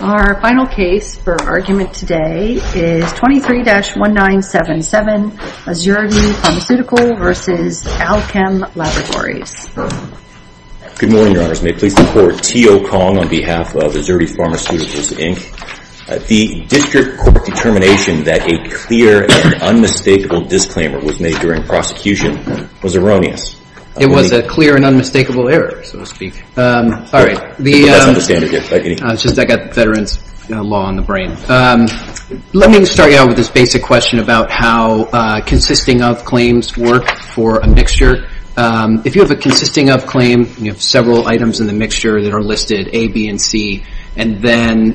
Our final case for argument today is 23-1977, Azurity Pharmaceuticals v. Alkem Laboratories. Good morning, Your Honors. May it please the Court, T.O. Kong on behalf of Azurity Pharmaceuticals, Inc. The District Court determination that a clear and unmistakable disclaimer was made during prosecution was erroneous. It was a clear and unmistakable error, so to speak. Let me start you out with this basic question about how consisting of claims work for a mixture. If you have a consisting of claim, you have several items in the mixture that are listed A, B, and C, and then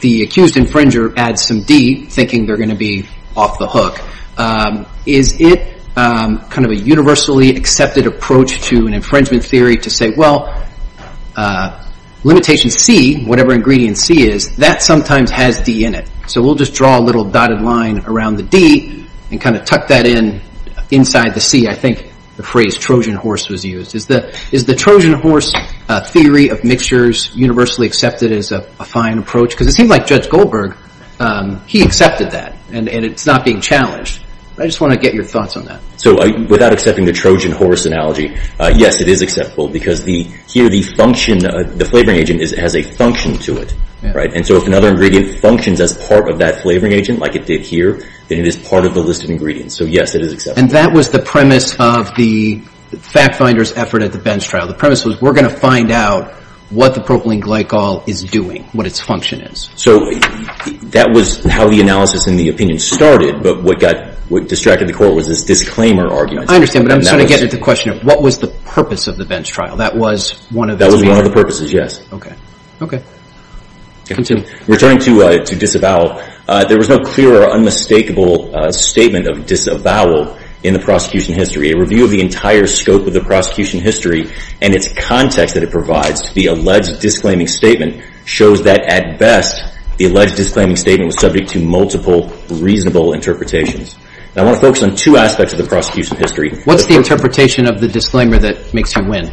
the accused infringer adds some D, thinking they're going to be off the hook. Is it kind of a universally accepted approach to an infringement theory to say, well, limitation C, whatever ingredient C is, that sometimes has D in it. So we'll just draw a little dotted line around the D and kind of tuck that in inside the C. I think the phrase Trojan horse was used. Is the Trojan horse theory of mixtures universally accepted as a fine approach? Because it seems like Judge Goldberg, he accepted that, and it's not being challenged. I just want to get your thoughts on that. So without accepting the Trojan horse analogy, yes, it is acceptable because here the flavoring agent has a function to it. And so if another ingredient functions as part of that flavoring agent like it did here, then it is part of the list of ingredients. So yes, it is acceptable. And that was the premise of the fact finder's effort at the Benz trial. The premise was we're going to find out what the propylene glycol is doing, what its function is. So that was how the analysis and the opinion started, but what distracted the court was this disclaimer argument. I understand, but I'm just trying to get at the question of what was the purpose of the Benz trial? That was one of the purposes. That was one of the purposes, yes. Okay. Okay. Continue. Returning to disavowal, there was no clear or unmistakable statement of disavowal in the prosecution history. A review of the entire scope of the prosecution history and its context that it provides to the alleged disclaiming statement shows that at best, the alleged disclaiming statement was subject to multiple reasonable interpretations. I want to focus on two aspects of the prosecution history. What's the interpretation of the disclaimer that makes you win?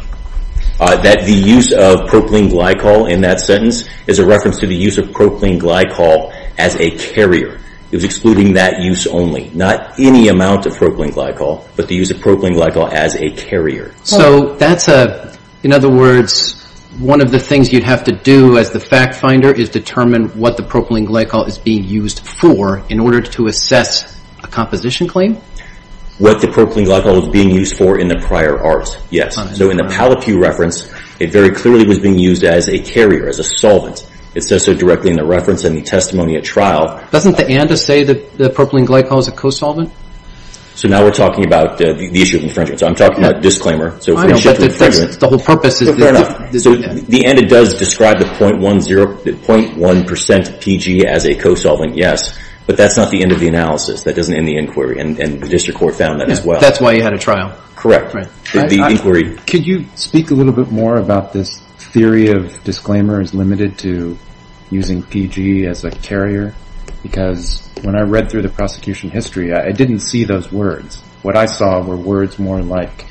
That the use of propylene glycol in that sentence is a reference to the use of propylene glycol as a carrier. It was excluding that use only. Not any amount of propylene glycol, but the use of propylene glycol as a carrier. So that's a, in other words, one of the things you'd have to do as the fact finder is determine what the propylene glycol is being used for in order to assess a composition claim? What the propylene glycol is being used for in the prior art. Yes. So in the Palapew reference, it very clearly was being used as a carrier, as a solvent. It says so directly in the reference and the testimony at trial. Doesn't the ANDA say that the propylene glycol is a co-solvent? So now we're talking about the issue of infringement. So I'm talking about disclaimer. So if we shift to infringement. I know, but the whole purpose is... Fair enough. So the ANDA does describe the 0.1% PG as a co-solvent, yes. But that's not the end of the analysis. That doesn't end the inquiry. And the district court found that as well. That's why you had a trial. Correct. The inquiry... Could you speak a little bit more about this theory of disclaimer is limited to using PG as a carrier? Because when I read through the prosecution history, I didn't see those words. What I saw were words more like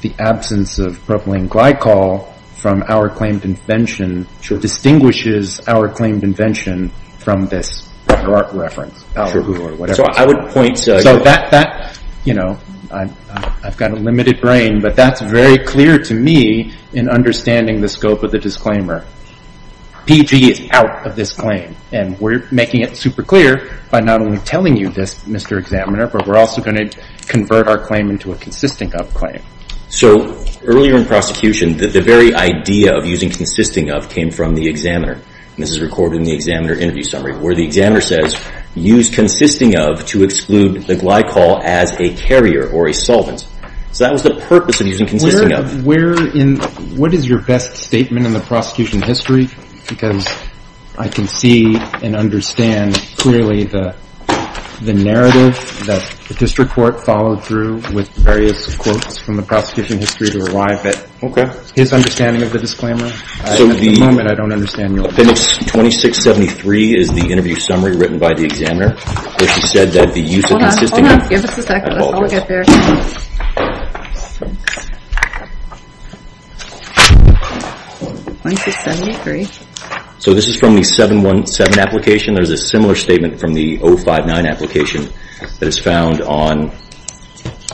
the absence of propylene glycol from our claimed invention, which distinguishes our claimed invention from this reference. So I would point... So that, you know, I've got a limited brain, but that's very clear to me in understanding the scope of the disclaimer. PG is out of this claim. And we're making it super clear by not only telling you this, Mr. Examiner, but we're also going to convert our claim into a consisting of claim. So earlier in prosecution, the very idea of using consisting of came from the examiner. This is recorded in the examiner interview summary, where the examiner says, use consisting of to exclude the glycol as a carrier or a solvent. So that was the purpose of using consisting of. Where in... What is your best statement in the prosecution history? Because I can see and understand clearly the narrative that the district court followed through with various quotes from the prosecution history to arrive at his understanding of the disclaimer. At the moment, I don't understand yours. Phoenix 2673 is the interview summary written by the examiner, where she said that the use of consisting of... Hold on. Hold on. Give us a second. I'll get there. 2673. So this is from the 717 application. There's a similar statement from the 059 application that is found on...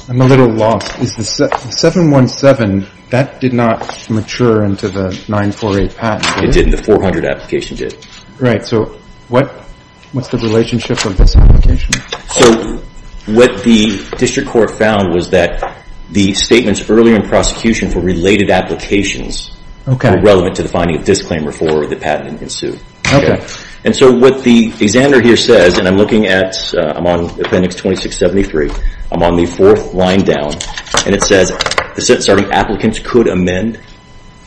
I'm a little lost. Is the 717, that did not mature into the 948 patent, did it? It didn't. The 400 application did. Right. So what's the relationship of this application? So what the district court found was that the statements earlier in prosecution for related applications were relevant to the finding of disclaimer for the patent ensued. And so what the examiner here says, and I'm looking at... I'm on Appendix 2673. I'm on the fourth line down. And it says... Sorry. Applicants could amend.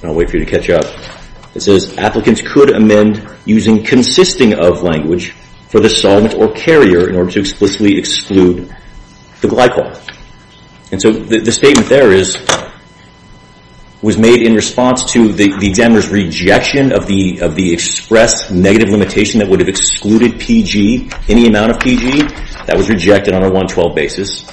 I'll wait for you to catch up. It says applicants could amend using consisting of language for the solvent or carrier in order to explicitly exclude the glycol. And so the statement there is, was made in response to the examiner's rejection of the expressed negative limitation that would have excluded PG, any amount of PG that was rejected on a 112 basis.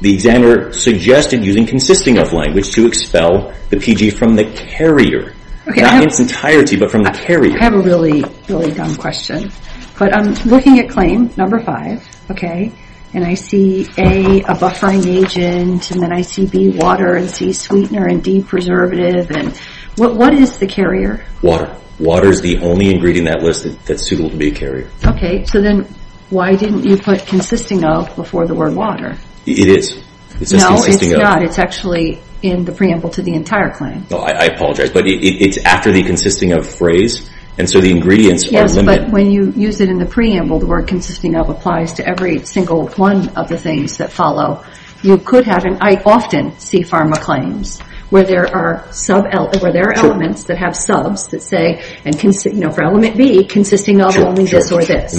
The examiner suggested using consisting of language to expel the PG from the carrier. Not its entirety, but from the carrier. I have a really, really dumb question. But I'm looking at claim number five. Okay. And I see A, a buffering agent. And then I see B, water. And C, sweetener. And D, preservative. And what is the carrier? Water. Water is the only ingredient in that list that's suitable to be a carrier. Okay. So then why didn't you put consisting of before the word water? It is. It says consisting of. No, it's not. It's actually in the preamble to the entire claim. Oh, I apologize. But it's after the consisting of phrase. And so the ingredients are limited. Yes, but when you use it in the preamble, the word consisting of applies to every single one of the things that follow. You could have, and I often see pharma claims, where there are elements that have subs that say, for element B, consisting of only this or this.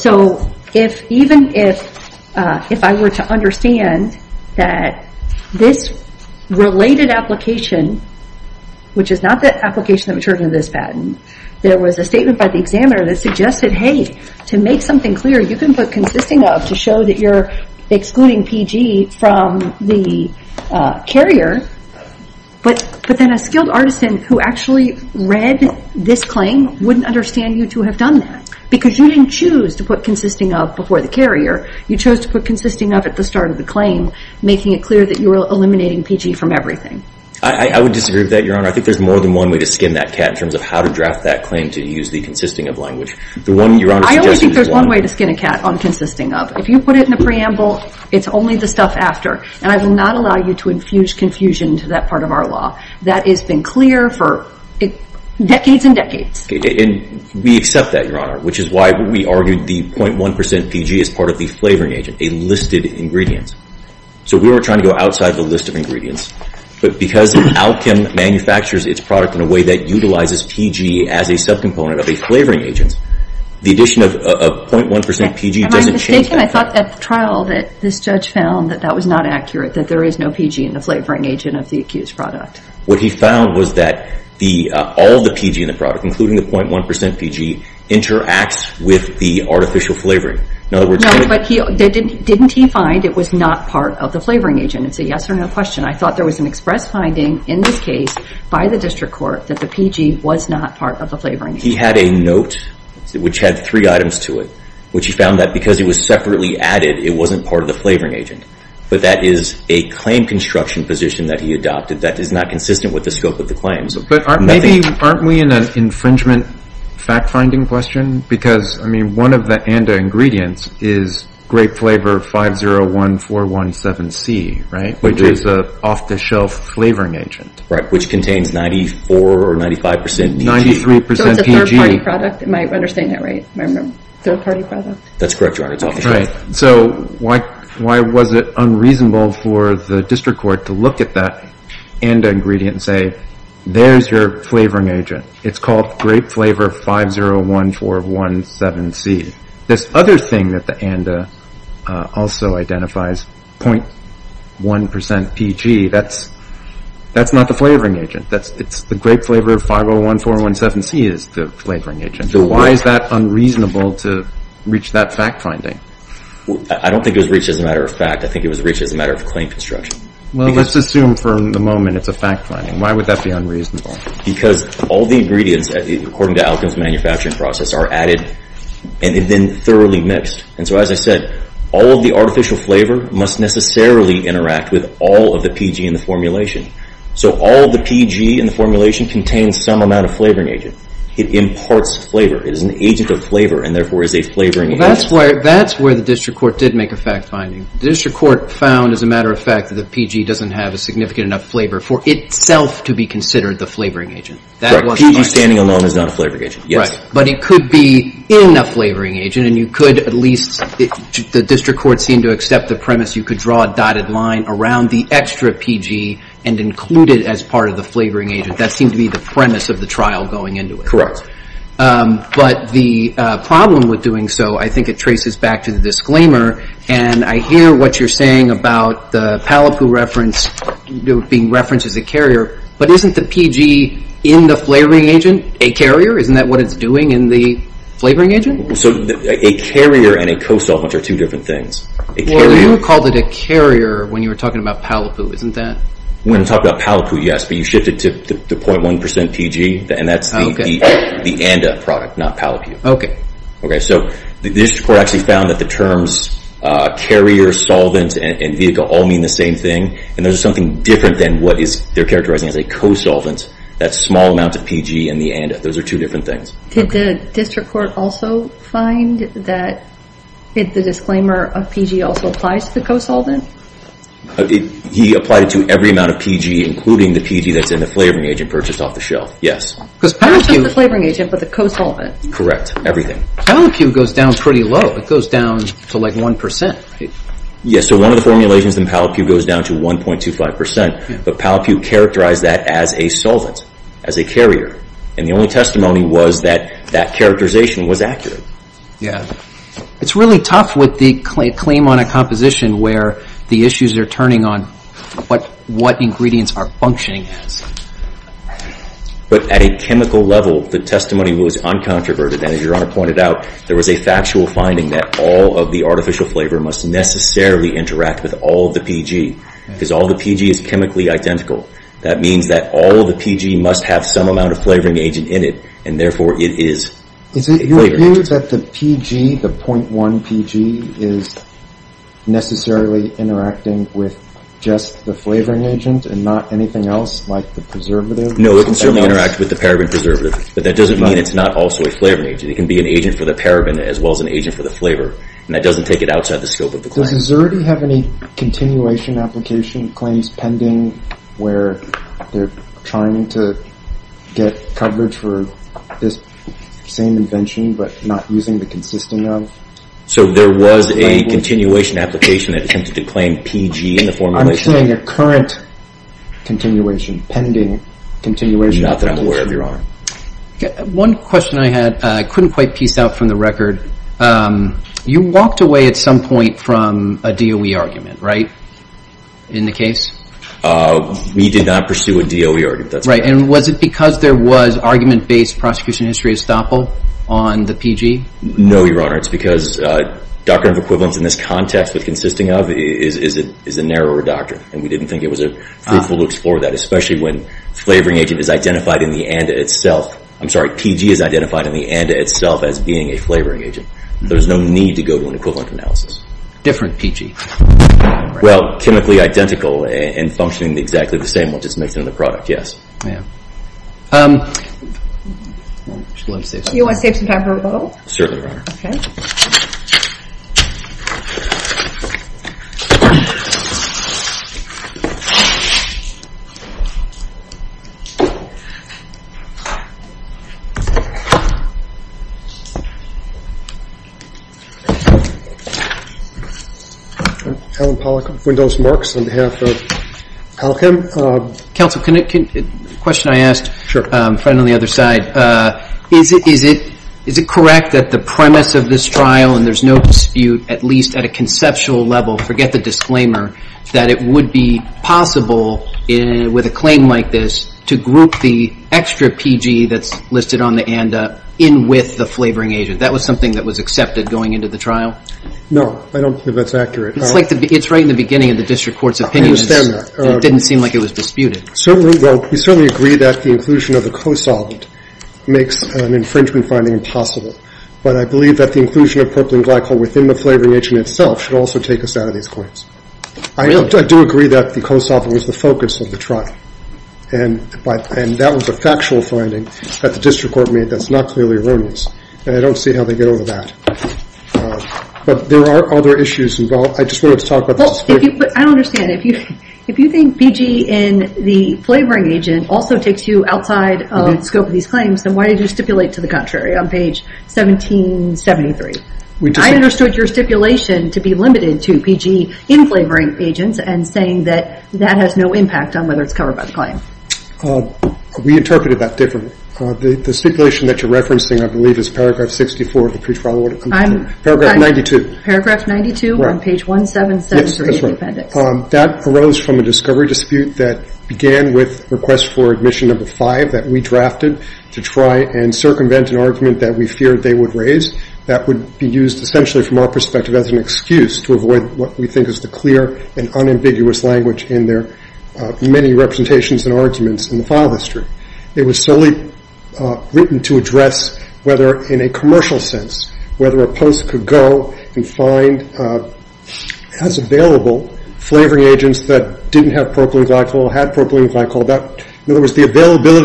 So even if I were to understand that this related application, which is not the application that was returned to this patent, there was a statement by the lawyer, you can put consisting of to show that you're excluding PG from the carrier. But then a skilled artisan who actually read this claim wouldn't understand you to have done that. Because you didn't choose to put consisting of before the carrier. You chose to put consisting of at the start of the claim, making it clear that you were eliminating PG from everything. I would disagree with that, Your Honor. I think there's more than one way to skin that cat in terms of how to draft that claim to use the consisting of language. I only think there's one way to skin a cat on consisting of. If you put it in the preamble, it's only the stuff after. And I will not allow you to infuse confusion to that part of our law. That has been clear for decades and decades. And we accept that, Your Honor, which is why we argued the 0.1% PG is part of the flavoring agent, a listed ingredient. So we were trying to go outside the list of ingredients. But because Alchem manufactures its product in a way that utilizes PG as a subcomponent of a flavoring agent, the addition of 0.1% PG doesn't change that. Am I mistaken? I thought at the trial that this judge found that that was not accurate, that there is no PG in the flavoring agent of the accused product. What he found was that all of the PG in the product, including the 0.1% PG, interacts with the artificial flavoring. In other words, there's no— No, but didn't he find it was not part of the flavoring agent? It's a yes or no question. I thought there was an express finding in this case by the district court that the PG was not part of the flavoring agent. He had a note, which had three items to it, which he found that because it was separately added, it wasn't part of the flavoring agent. But that is a claim construction position that he adopted that is not consistent with the scope of the claims. But aren't we in an infringement fact-finding question? Because, I mean, one of the ANDA ingredients is grape flavor 501417C, right? Which is an off-the-shelf flavoring agent. Right, which contains 94 or 95% PG. 93% PG. So it's a third-party product? Am I understanding that right? Third-party product? That's correct, Your Honor. It's off-the-shelf. Right. So why was it unreasonable for the district court to look at that ANDA ingredient and say, there's your flavoring agent. It's called grape flavor 501417C. This other thing that the ANDA also identifies, 0.1% PG, that's not the flavoring agent. It's the grape flavor 501417C is the flavoring agent. So why is that unreasonable to reach that fact-finding? I don't think it was reached as a matter of fact. I think it was reached as a matter of claim construction. Well, let's assume for the moment it's a fact-finding. Why would that be unreasonable? Because all the ingredients, according to Alkin's manufacturing process, are added and then thoroughly mixed. And so, as I said, all of the artificial flavor must necessarily interact with all of the PG in the formulation. So all of the PG in the formulation contains some amount of flavoring agent. It imparts flavor. It is an agent of flavor and therefore is a flavoring agent. Well, that's where the district court did make a fact-finding. The district court found, as a matter of fact, that the PG doesn't have a significant enough flavor for itself to be considered the flavoring agent. Right. PG standing alone is not a flavoring agent. Yes. But it could be in a flavoring agent and you could at least, the district court seemed to accept the premise you could draw a dotted line around the extra PG and include it as part of the flavoring agent. That seemed to be the premise of the trial going into it. Correct. But the problem with doing so, I think it traces back to the disclaimer. And I hear what you're saying about the Palapu reference being referenced as a carrier. But isn't the PG in the flavoring agent a carrier? Isn't that what it's doing in the flavoring agent? So a carrier and a co-solvent are two different things. Well, you called it a carrier when you were talking about Palapu, isn't that? When I talked about Palapu, yes, but you shifted to the 0.1% PG and that's the ANDA product, not Palapu. Okay. Okay, so the district court actually found that the terms carrier, solvent, and vehicle all mean the same thing. And there's something different than what they're characterizing as a co-solvent, that small amount of PG and the ANDA. Those are two different things. Did the district court also find that the disclaimer of PG also applies to the co-solvent? He applied it to every amount of PG, including the PG that's in the flavoring agent purchased off the shelf, yes. Because Palapu- Not just the flavoring agent, but the co-solvent. Correct, everything. Palapu goes down pretty low. It goes down to like 1%. Yes, so one of the formulations in Palapu goes down to 1.25%, but Palapu characterized that as a solvent, as a carrier, and the only testimony was that that characterization was accurate. Yes. It's really tough with the claim on a composition where the issues are turning on what ingredients are functioning as. But at a chemical level, the testimony was uncontroverted, and as Your Honor pointed out, there was a factual finding that all of the artificial flavor must necessarily interact with all of the PG, because all of the PG is chemically identical. That means that all of the PG must have some amount of flavoring agent in it, and therefore it is flavored. Is it your view that the PG, the 0.1 PG, is necessarily interacting with just the flavoring agent and not anything else, like the preservative? No, it can certainly interact with the paraben preservative, but that doesn't mean it's not also a flavoring agent. It can be an agent for the paraben as well as an agent for the flavor, and that doesn't take it outside the scope of the claim. Does Xerde have any continuation application claims pending where they're trying to get coverage for this same invention but not using the consisting of? So there was a continuation application that attempted to claim PG in the formulation? I'm saying a current continuation, pending continuation application. Not that I'm aware of, Your Honor. One question I had I couldn't quite piece out from the record. You walked away at some point from a DOE argument, right, in the case? We did not pursue a DOE argument. Right. And was it because there was argument-based prosecution history estoppel on the PG? No, Your Honor. It's because doctrine of equivalence in this context with consisting of is a narrower doctrine, and we didn't think it was a fruitful to explore that, especially when flavoring agent is identified in the ANDA itself. I'm sorry, PG is identified in the ANDA itself as being a flavoring agent. There's no need to go to an equivalent analysis. Different PG? Well, chemically identical and functioning exactly the same once it's mixed into the product, yes. You want to save some time for rebuttal? Certainly, Your Honor. Okay. Allen Pollack of Windows Marks on behalf of Alchem. Counsel, a question I asked a friend on the other side. Is it correct that the premise of this trial, and there's no dispute at least at a conceptual level, forget the disclaimer, that it would be possible with a claim like this to group the extra PG that's listed on the ANDA in with the flavoring agent? That was something that was accepted going into the trial? No, I don't believe that's accurate. It's like the – it's right in the beginning of the district court's opinion. I understand that. It didn't seem like it was disputed. Certainly – well, we certainly agree that the inclusion of the COSOL makes an infringement finding impossible, but I believe that the inclusion of propylene glycol within the flavoring agent itself should also take us out of these claims. I do agree that the COSOL was the focus of the trial, and that was a factual finding that the district court made that's not clearly erroneous, and I don't see how they get over that. But there are other issues involved. I just wanted to talk about this. Well, I don't understand. If you think PG in the flavoring agent also takes you outside of the scope of these claims, then why did you stipulate to the contrary on page 1773? I understood your stipulation to be limited to PG in flavoring agents and saying that that has no impact on whether it's covered by the claim. We interpreted that differently. The stipulation that you're referencing, I believe, is paragraph 64 of the pre-trial order. I'm – Paragraph 92. Paragraph 92 on page 1773 of the appendix. Yes, that's right. That arose from a discovery dispute that began with request for admission number five that we drafted to try and circumvent an argument that we feared they would raise that would be used essentially from our perspective as an excuse to avoid what we think is the clear and unambiguous language in their many representations and arguments in the file history. It was solely written to address whether in a commercial sense, whether a post could go and find as available flavoring agents that didn't have propylene glycol, had propylene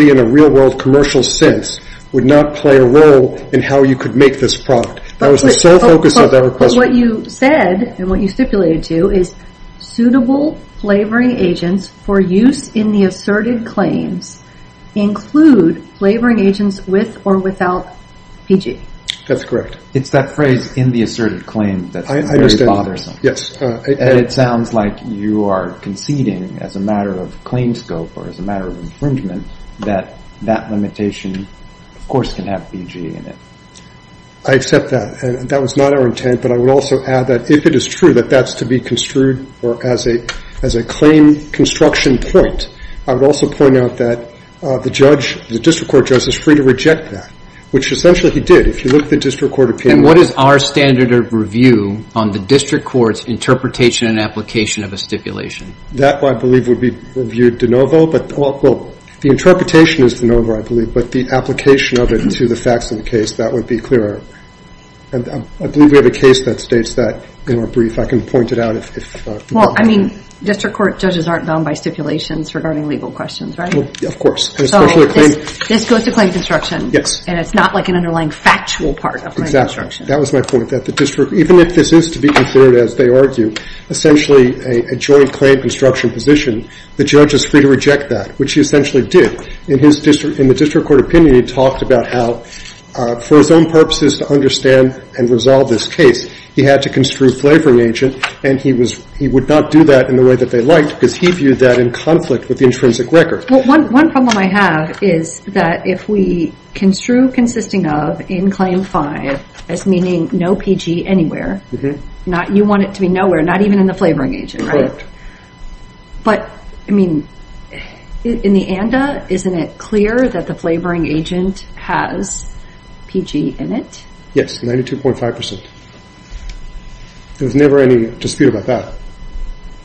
in a real world commercial sense, would not play a role in how you could make this product. That was the sole focus of that request. What you said and what you stipulated to is suitable flavoring agents for use in the asserted claims include flavoring agents with or without PG. That's correct. It's that phrase in the asserted claim that's very bothersome. Yes. It sounds like you are conceding as a matter of claim scope or as a matter of infringement that that limitation, of course, can have PG in it. I accept that. That was not our intent, but I would also add that if it is true that that's to be construed or as a claim construction point, I would also point out that the district court judge is free to reject that, which essentially he did if you look at the district court opinion. What is our standard of review on the district court's interpretation and application of a stipulation? That, I believe, would be reviewed de novo. The interpretation is de novo, I believe, but the application of it to the facts of the case, that would be clearer. I believe we have a case that states that in a brief. I can point it out if... Well, I mean, district court judges aren't bound by stipulations regarding legal questions, right? Of course. Especially a claim... This goes to claim construction. Yes. It's not like an underlying factual part of claim construction. That was my point. Even if this is to be considered, as they argue, essentially a joint claim construction position, the judge is free to reject that, which he essentially did. In the district court opinion, he talked about how for his own purposes to understand and resolve this case, he had to construe flavoring agent, and he would not do that in the way that they liked because he viewed that in conflict with the intrinsic record. One problem I have is that if we construe consisting of in claim five as meaning no PG anywhere, you want it to be nowhere, not even in the flavoring agent, right? But, I mean, in the ANDA, isn't it clear that the flavoring agent has PG in it? Yes. 92.5%. There's never any dispute about that.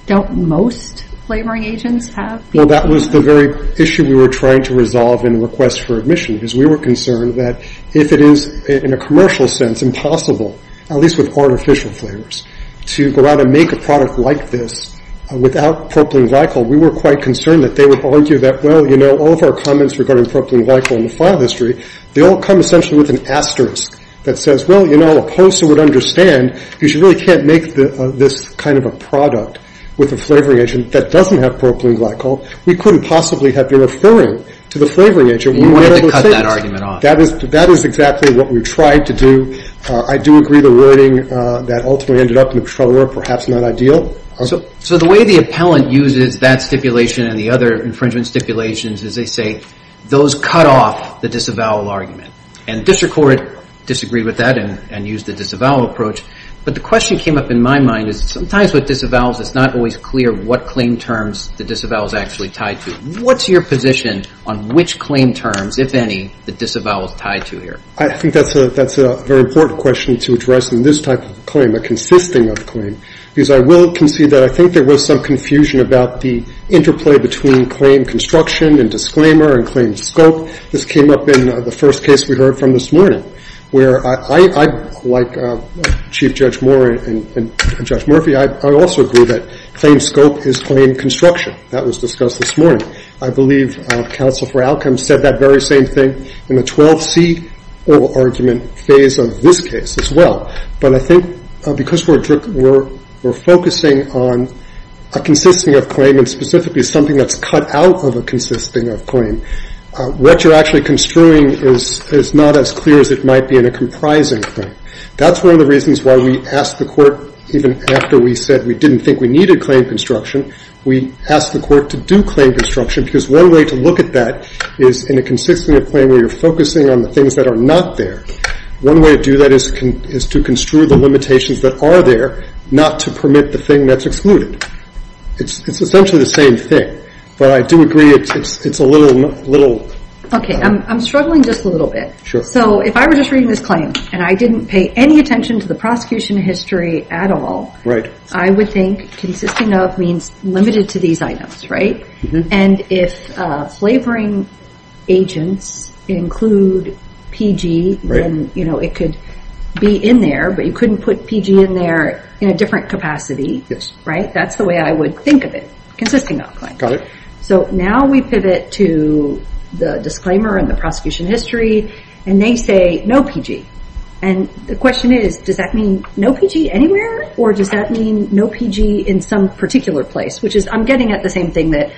Don't most flavoring agents have PG? Well, that was the very issue we were trying to resolve in the request for admission, because we were concerned that if it is, in a commercial sense, impossible, at least with artificial flavors, to go out and make a product like this without propylene glycol, we were quite concerned that they would argue that, well, you know, all of our comments regarding propylene glycol in the file history, they all come essentially with an asterisk that says, well, you know, a poster would understand because you really can't make this kind of a product with a flavoring agent that doesn't have propylene glycol. We couldn't possibly have been referring to the flavoring agent. We wanted to cut that argument off. That is exactly what we tried to do. I do agree the wording that ultimately ended up in the controller, perhaps not ideal. So the way the appellant uses that stipulation and the other infringement stipulations is they say, those cut off the disavowal argument. And district court disagreed with that and used the disavowal approach. But the question came up in my mind is sometimes with disavowals, it's not always clear what claim terms the disavowal is actually tied to. What's your position on which claim terms, if any, the disavowal is tied to here? I think that's a very important question to address in this type of claim, a consisting of claim, because I will concede that I think there was some confusion about the interplay between claim construction and disclaimer and claim scope. This came up in the first case we heard from this morning, where I, like Chief Judge Moore and Judge Murphy, I also agree that claim scope is claim construction. That was discussed this morning. I believe counsel for outcomes said that very same thing in the 12C oral argument phase of this case as well. But I think because we're focusing on a consisting of claim and specifically something that's cut out of a consisting of claim, what you're actually construing is not as clear as it might be in a comprising claim. That's one of the reasons why we asked the court, even after we said we didn't think we needed claim construction, we asked the court to do claim construction, because one way to look at that is in a consisting of claim where you're focusing on the things that are not there, one way to do that is to construe the limitations that are there, not to permit the thing that's excluded. It's essentially the same thing, but I do agree it's a little... Okay, I'm struggling just a little bit. So if I were just reading this claim and I didn't pay any attention to the prosecution history at all, I would think consisting of means limited to these items, right? And if flavoring agents include PG, then it could be in there, but you couldn't put PG in there in a different capacity, right? That's the way I would think of it, consisting of claim. Got it. So now we pivot to the disclaimer and the prosecution history, and they say no PG. And the question is, does that mean no PG anywhere, or does that mean no PG in some particular place? Which is, I'm getting at the same thing that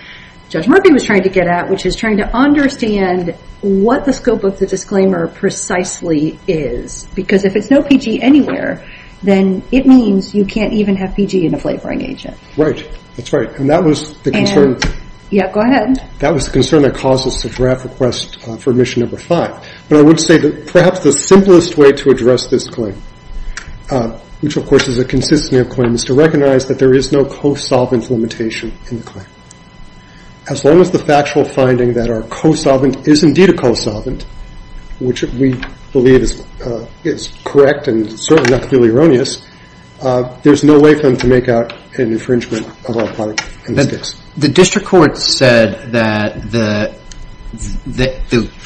Judge Murphy was trying to get at, which is trying to understand what the scope of the disclaimer precisely is. Because if it's no PG anywhere, then it means you can't even have PG in a flavoring agent. Right. That's right. And that was the concern... And... Yeah, go ahead. That was the concern that caused us to draft request for mission number five. But I would say that perhaps the simplest way to address this claim, which of course is a consisting of claims, to recognize that there is no co-solvent limitation in the claim. As long as the factual finding that our co-solvent is indeed a co-solvent, which we believe is correct and certainly not clearly erroneous, there's no way for them to make out an infringement of our product in this case. The district court said that the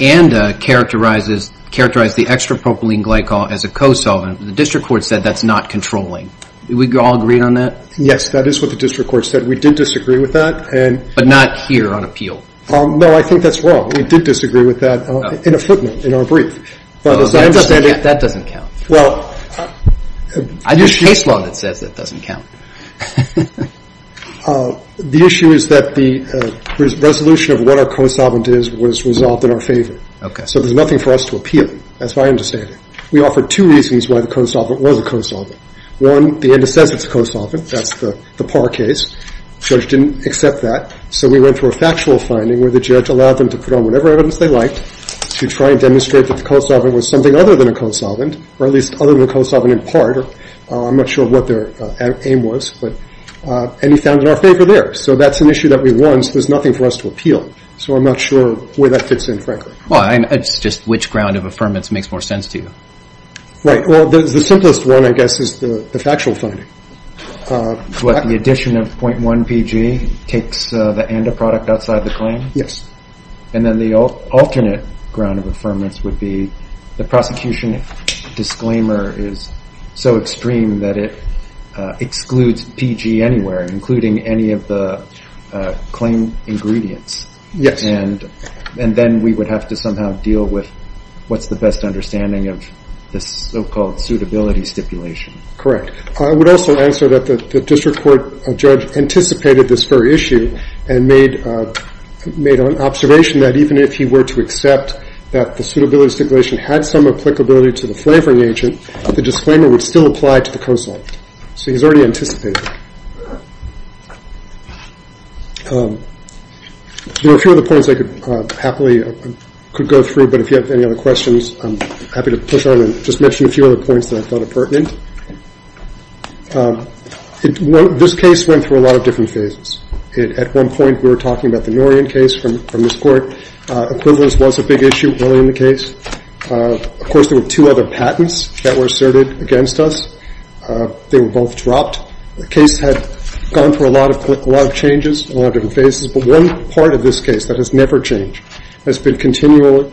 ANDA characterized the extrapropylene glycol as a co-solvent. The district court said that's not controlling. We all agreed on that? Yes. That is what the district court said. We did disagree with that. And... But not here on appeal? No, I think that's wrong. We did disagree with that in a footnote, in our brief. But as I understand it... That doesn't count. Well... I use case law that says that doesn't count. The issue is that the resolution of what our co-solvent is was resolved in our favor. Okay. So there's nothing for us to appeal. That's my understanding. We offered two reasons why the co-solvent was a co-solvent. One, the ANDA says it's a co-solvent. That's the par case. The judge didn't accept that. So we went for a factual finding where the judge allowed them to put on whatever evidence they liked to try and demonstrate that the co-solvent was something other than a co-solvent, or at least other than a co-solvent in part. I'm not sure what their aim was. But... And he found it in our favor there. So that's an issue that we won, so there's nothing for us to appeal. So I'm not sure where that fits in, frankly. Well, I mean, it's just which ground of affirmance makes more sense to you. Right. Well, the simplest one, I guess, is the factual finding. What, the addition of .1PG takes the ANDA product outside the claim? Yes. And then the alternate ground of affirmance would be the prosecution disclaimer is so extreme that it excludes PG anywhere, including any of the claim ingredients. And then we would have to somehow deal with what's the best understanding of this so-called suitability stipulation. Correct. I would also answer that the district court judge anticipated this very issue and made an observation that even if he were to accept that the suitability stipulation had some applicability to the flavoring agent, the disclaimer would still apply to the co-solvent. So he's already anticipated. There are a few other points I could happily, could go through, but if you have any other questions, I'm happy to push on and just mention a few other points that I thought are pertinent. This case went through a lot of different phases. At one point, we were talking about the Norian case from this court. Equivalence was a big issue early in the case. Of course, there were two other patents that were asserted against us. They were both dropped. The case had gone through a lot of changes, a lot of different phases, but one part of this case that has never changed, has been continually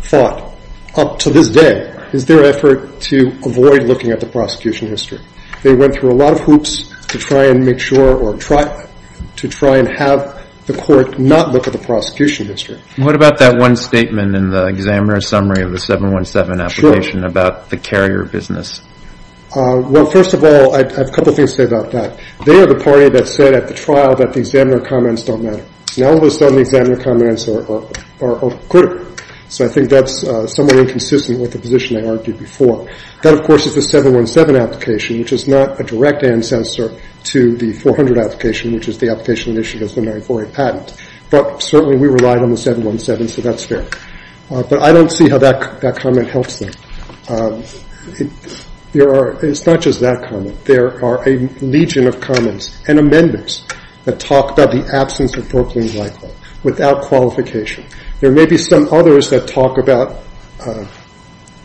fought up to this day, is the effort to avoid looking at the prosecution history. They went through a lot of hoops to try and make sure or to try and have the court not look at the prosecution history. What about that one statement in the examiner's summary of the 717 application about the carrier business? Well, first of all, I have a couple of things to say about that. They are the party that said at the trial that the examiner comments don't matter. Now all of a sudden, the examiner comments are critical. So I think that's somewhat inconsistent with the position they argued before. That, of course, is the 717 application, which is not a direct ancestor to the 400 application, which is the application issued as the Mary Foray patent. But certainly, we relied on the 717, so that's fair. But I don't see how that comment helps them. It's not just that comment. There are a legion of comments and amendments that talk about the absence of Brooklyn's license without qualification. There may be some others that talk about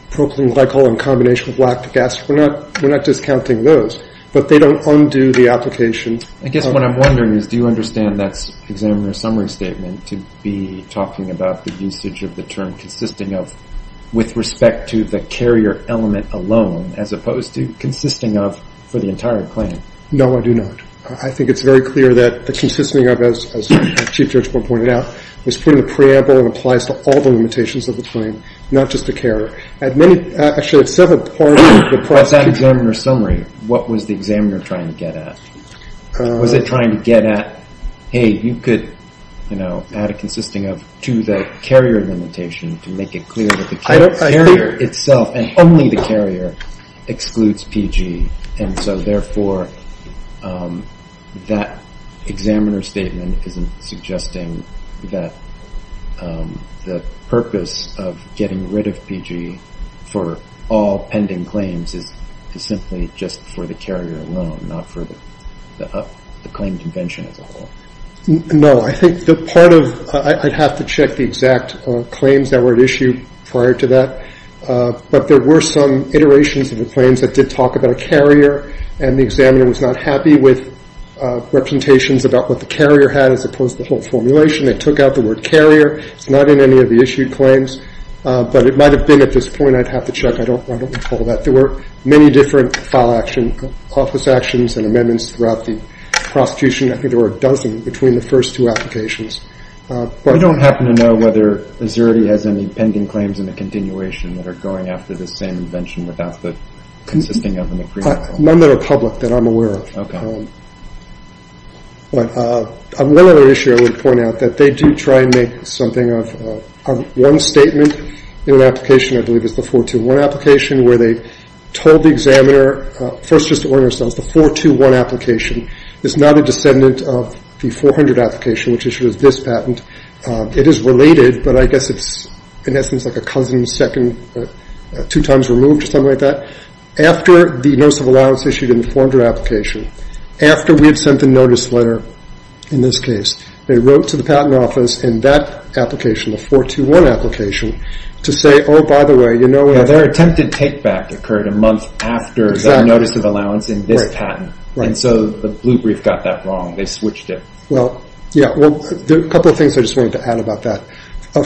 Brooklyn glycol in combination with lactic acid. We're not discounting those. But they don't undo the application. I guess what I'm wondering is, do you understand that examiner's summary statement to be talking about the usage of the term consisting of with respect to the carrier element alone as opposed to consisting of for the entire claim? No, I do not. I think it's very clear that the consisting of, as Chief Judge Boyle pointed out, is putting the preamble and applies to all the limitations of the claim, not just the carrier. Actually, it's several parts of the process. But that examiner's summary, what was the examiner trying to get at? Was it trying to get at, hey, you could add a consisting of to the carrier limitation to make it clear that the carrier itself, and only the carrier, excludes PG. And so, therefore, that examiner's statement isn't suggesting that the purpose of getting rid of PG for all pending claims is simply just for the carrier alone, not for the claim convention as a whole. No, I think the part of, I'd have to check the exact claims that were at issue prior to that. But there were some iterations of the claims that did talk about a carrier, and the examiner was not happy with representations about what the carrier had as opposed to the whole formulation. They took out the word carrier. It's not in any of the issued claims. But it might have been at this point. I'd have to check. I don't recall that. There were many different file action, office actions and amendments throughout the prosecution. I think there were a dozen between the first two applications. I don't happen to know whether AZERTY has any pending claims in the continuation that are going after this same invention without the consisting of an agreement. None that are public that I'm aware of. One other issue I would point out, that they do try and make something of one statement in an application, I believe it's the 421 application, where they told the examiner, first just to warn ourselves, the 421 application is not a descendant of the 400 application, which issued us this patent. It is related, but I guess it's in essence like a cousin second, two times removed or something like that. After the notice of allowance issued in the 400 application, after we had sent the notice letter, in this case, they wrote to the patent office in that application, the 421 application, to say, oh, by the way, you know... Their attempted take back occurred a month after the notice of allowance in this patent. And so the Blue Brief got that wrong. They switched it. There are a couple of things I just wanted to add about that.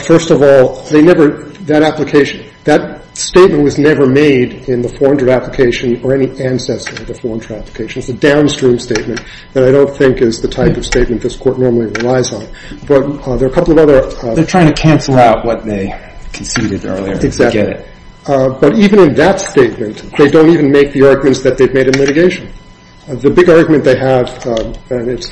First of all, that application, that statement was never made in the 400 application or any ancestor of the 400 application. It's a downstream statement that I don't think is the type of statement this Court normally relies on. But there are a couple of other... They're trying to cancel out what they conceded earlier. Exactly. But even in that statement, they don't even make the arguments that they've made in litigation. The big argument they have, and it's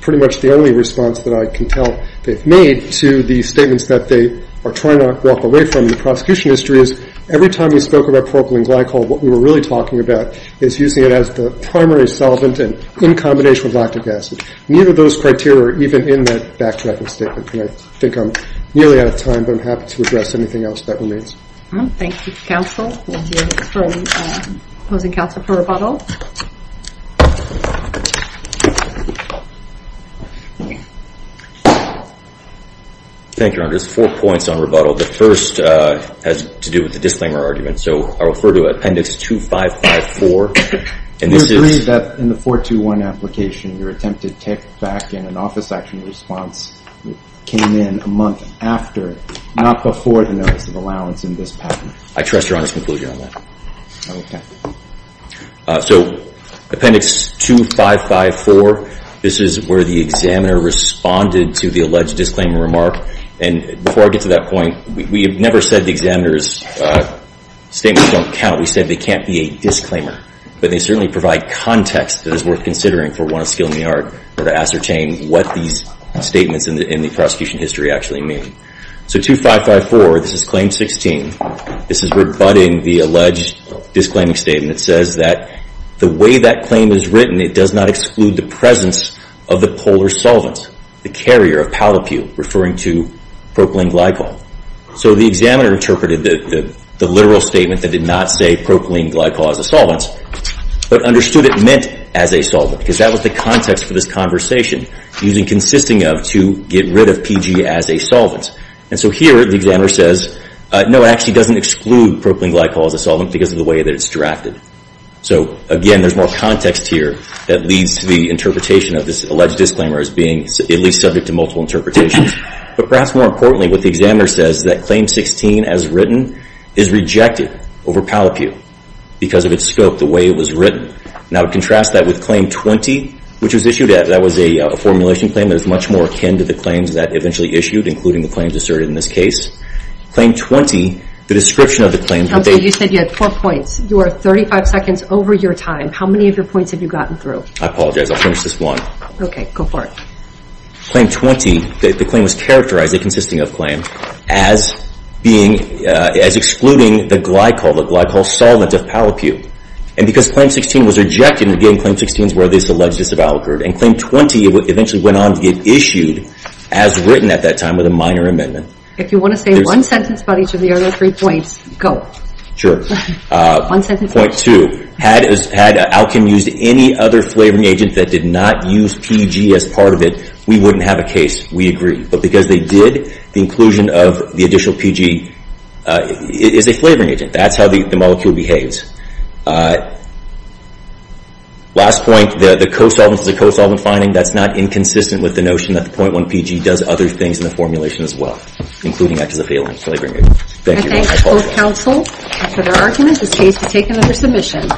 pretty much the only response that I can tell they've made, to the statements that they are trying to walk away from in the prosecution history, is every time we spoke about propylene glycol, what we were really talking about is using it as the primary solvent in combination with lactic acid. Neither of those criteria are even in that backtracking statement. I think I'm nearly out of time, but I'm happy to address anything else that remains. Thank you, counsel, for opposing counsel for rebuttal. Thank you, Your Honor. There's four points on rebuttal. The first has to do with the disclaimer argument. So I refer to Appendix 2554, and this is... We agree that in the 421 application, your attempted take back in an office action response came in a month after, not before, the notice of allowance in this patent. I trust Your Honor's conclusion on that. Okay. So Appendix 2554, this is where the examiner responded to the alleged disclaimer remark. And before I get to that point, we have never said the examiner's statements don't count. We said they can't be a disclaimer. But they certainly provide context that is worth considering for one of skill in the art to ascertain what these statements in the prosecution history actually mean. So 2554, this is Claim 16. This is rebutting the alleged disclaiming statement. It says that the way that claim is written, it does not exclude the presence of the polar solvent, the carrier of pallipu, referring to propylene glycol. So the examiner interpreted the literal statement that did not say propylene glycol as a solvent, but understood it meant as a solvent. Because that was the context for this conversation, using consisting of to get rid of PG as a solvent. And so here, the examiner says, no, it actually doesn't exclude propylene glycol as a solvent because of the way that it's drafted. So again, there's more context here that leads to the interpretation of this alleged disclaimer as being at least subject to multiple interpretations. But perhaps more importantly, what the examiner says is that Claim 16 as written is rejected over pallipu because of its scope, the way it was written. Now to contrast that with Claim 20, which was issued, that was a formulation claim, that was much more akin to the claims that eventually issued, including the claims asserted in this case. Claim 20, the description of the claims that they... You said you had four points. You are 35 seconds over your time. How many of your points have you gotten through? I apologize, I'll finish this one. Okay, go for it. Claim 20, the claim was characterized, a consisting of claim, as excluding the glycol, the glycol solvent of pallipu. And because Claim 16 was rejected, again, Claim 16 is where this alleged disavowal occurred. And Claim 20 eventually went on to get issued as written at that time with a minor amendment. If you want to say one sentence about each of the other three points, go. Sure. One sentence. Point two, had Alkin used any other flavoring agent that did not use PEG as part of it, we wouldn't have a case. We agree. But because they did, the inclusion of the additional PEG is a flavoring agent. That's how the molecule behaves. Last point, the co-solvent finding, that's not inconsistent with the notion that the Point 1 PEG does other things in the formulation as well, including act as a failing flavoring agent. Thank you very much. I thank both counsel for their arguments. This case is taken under submission.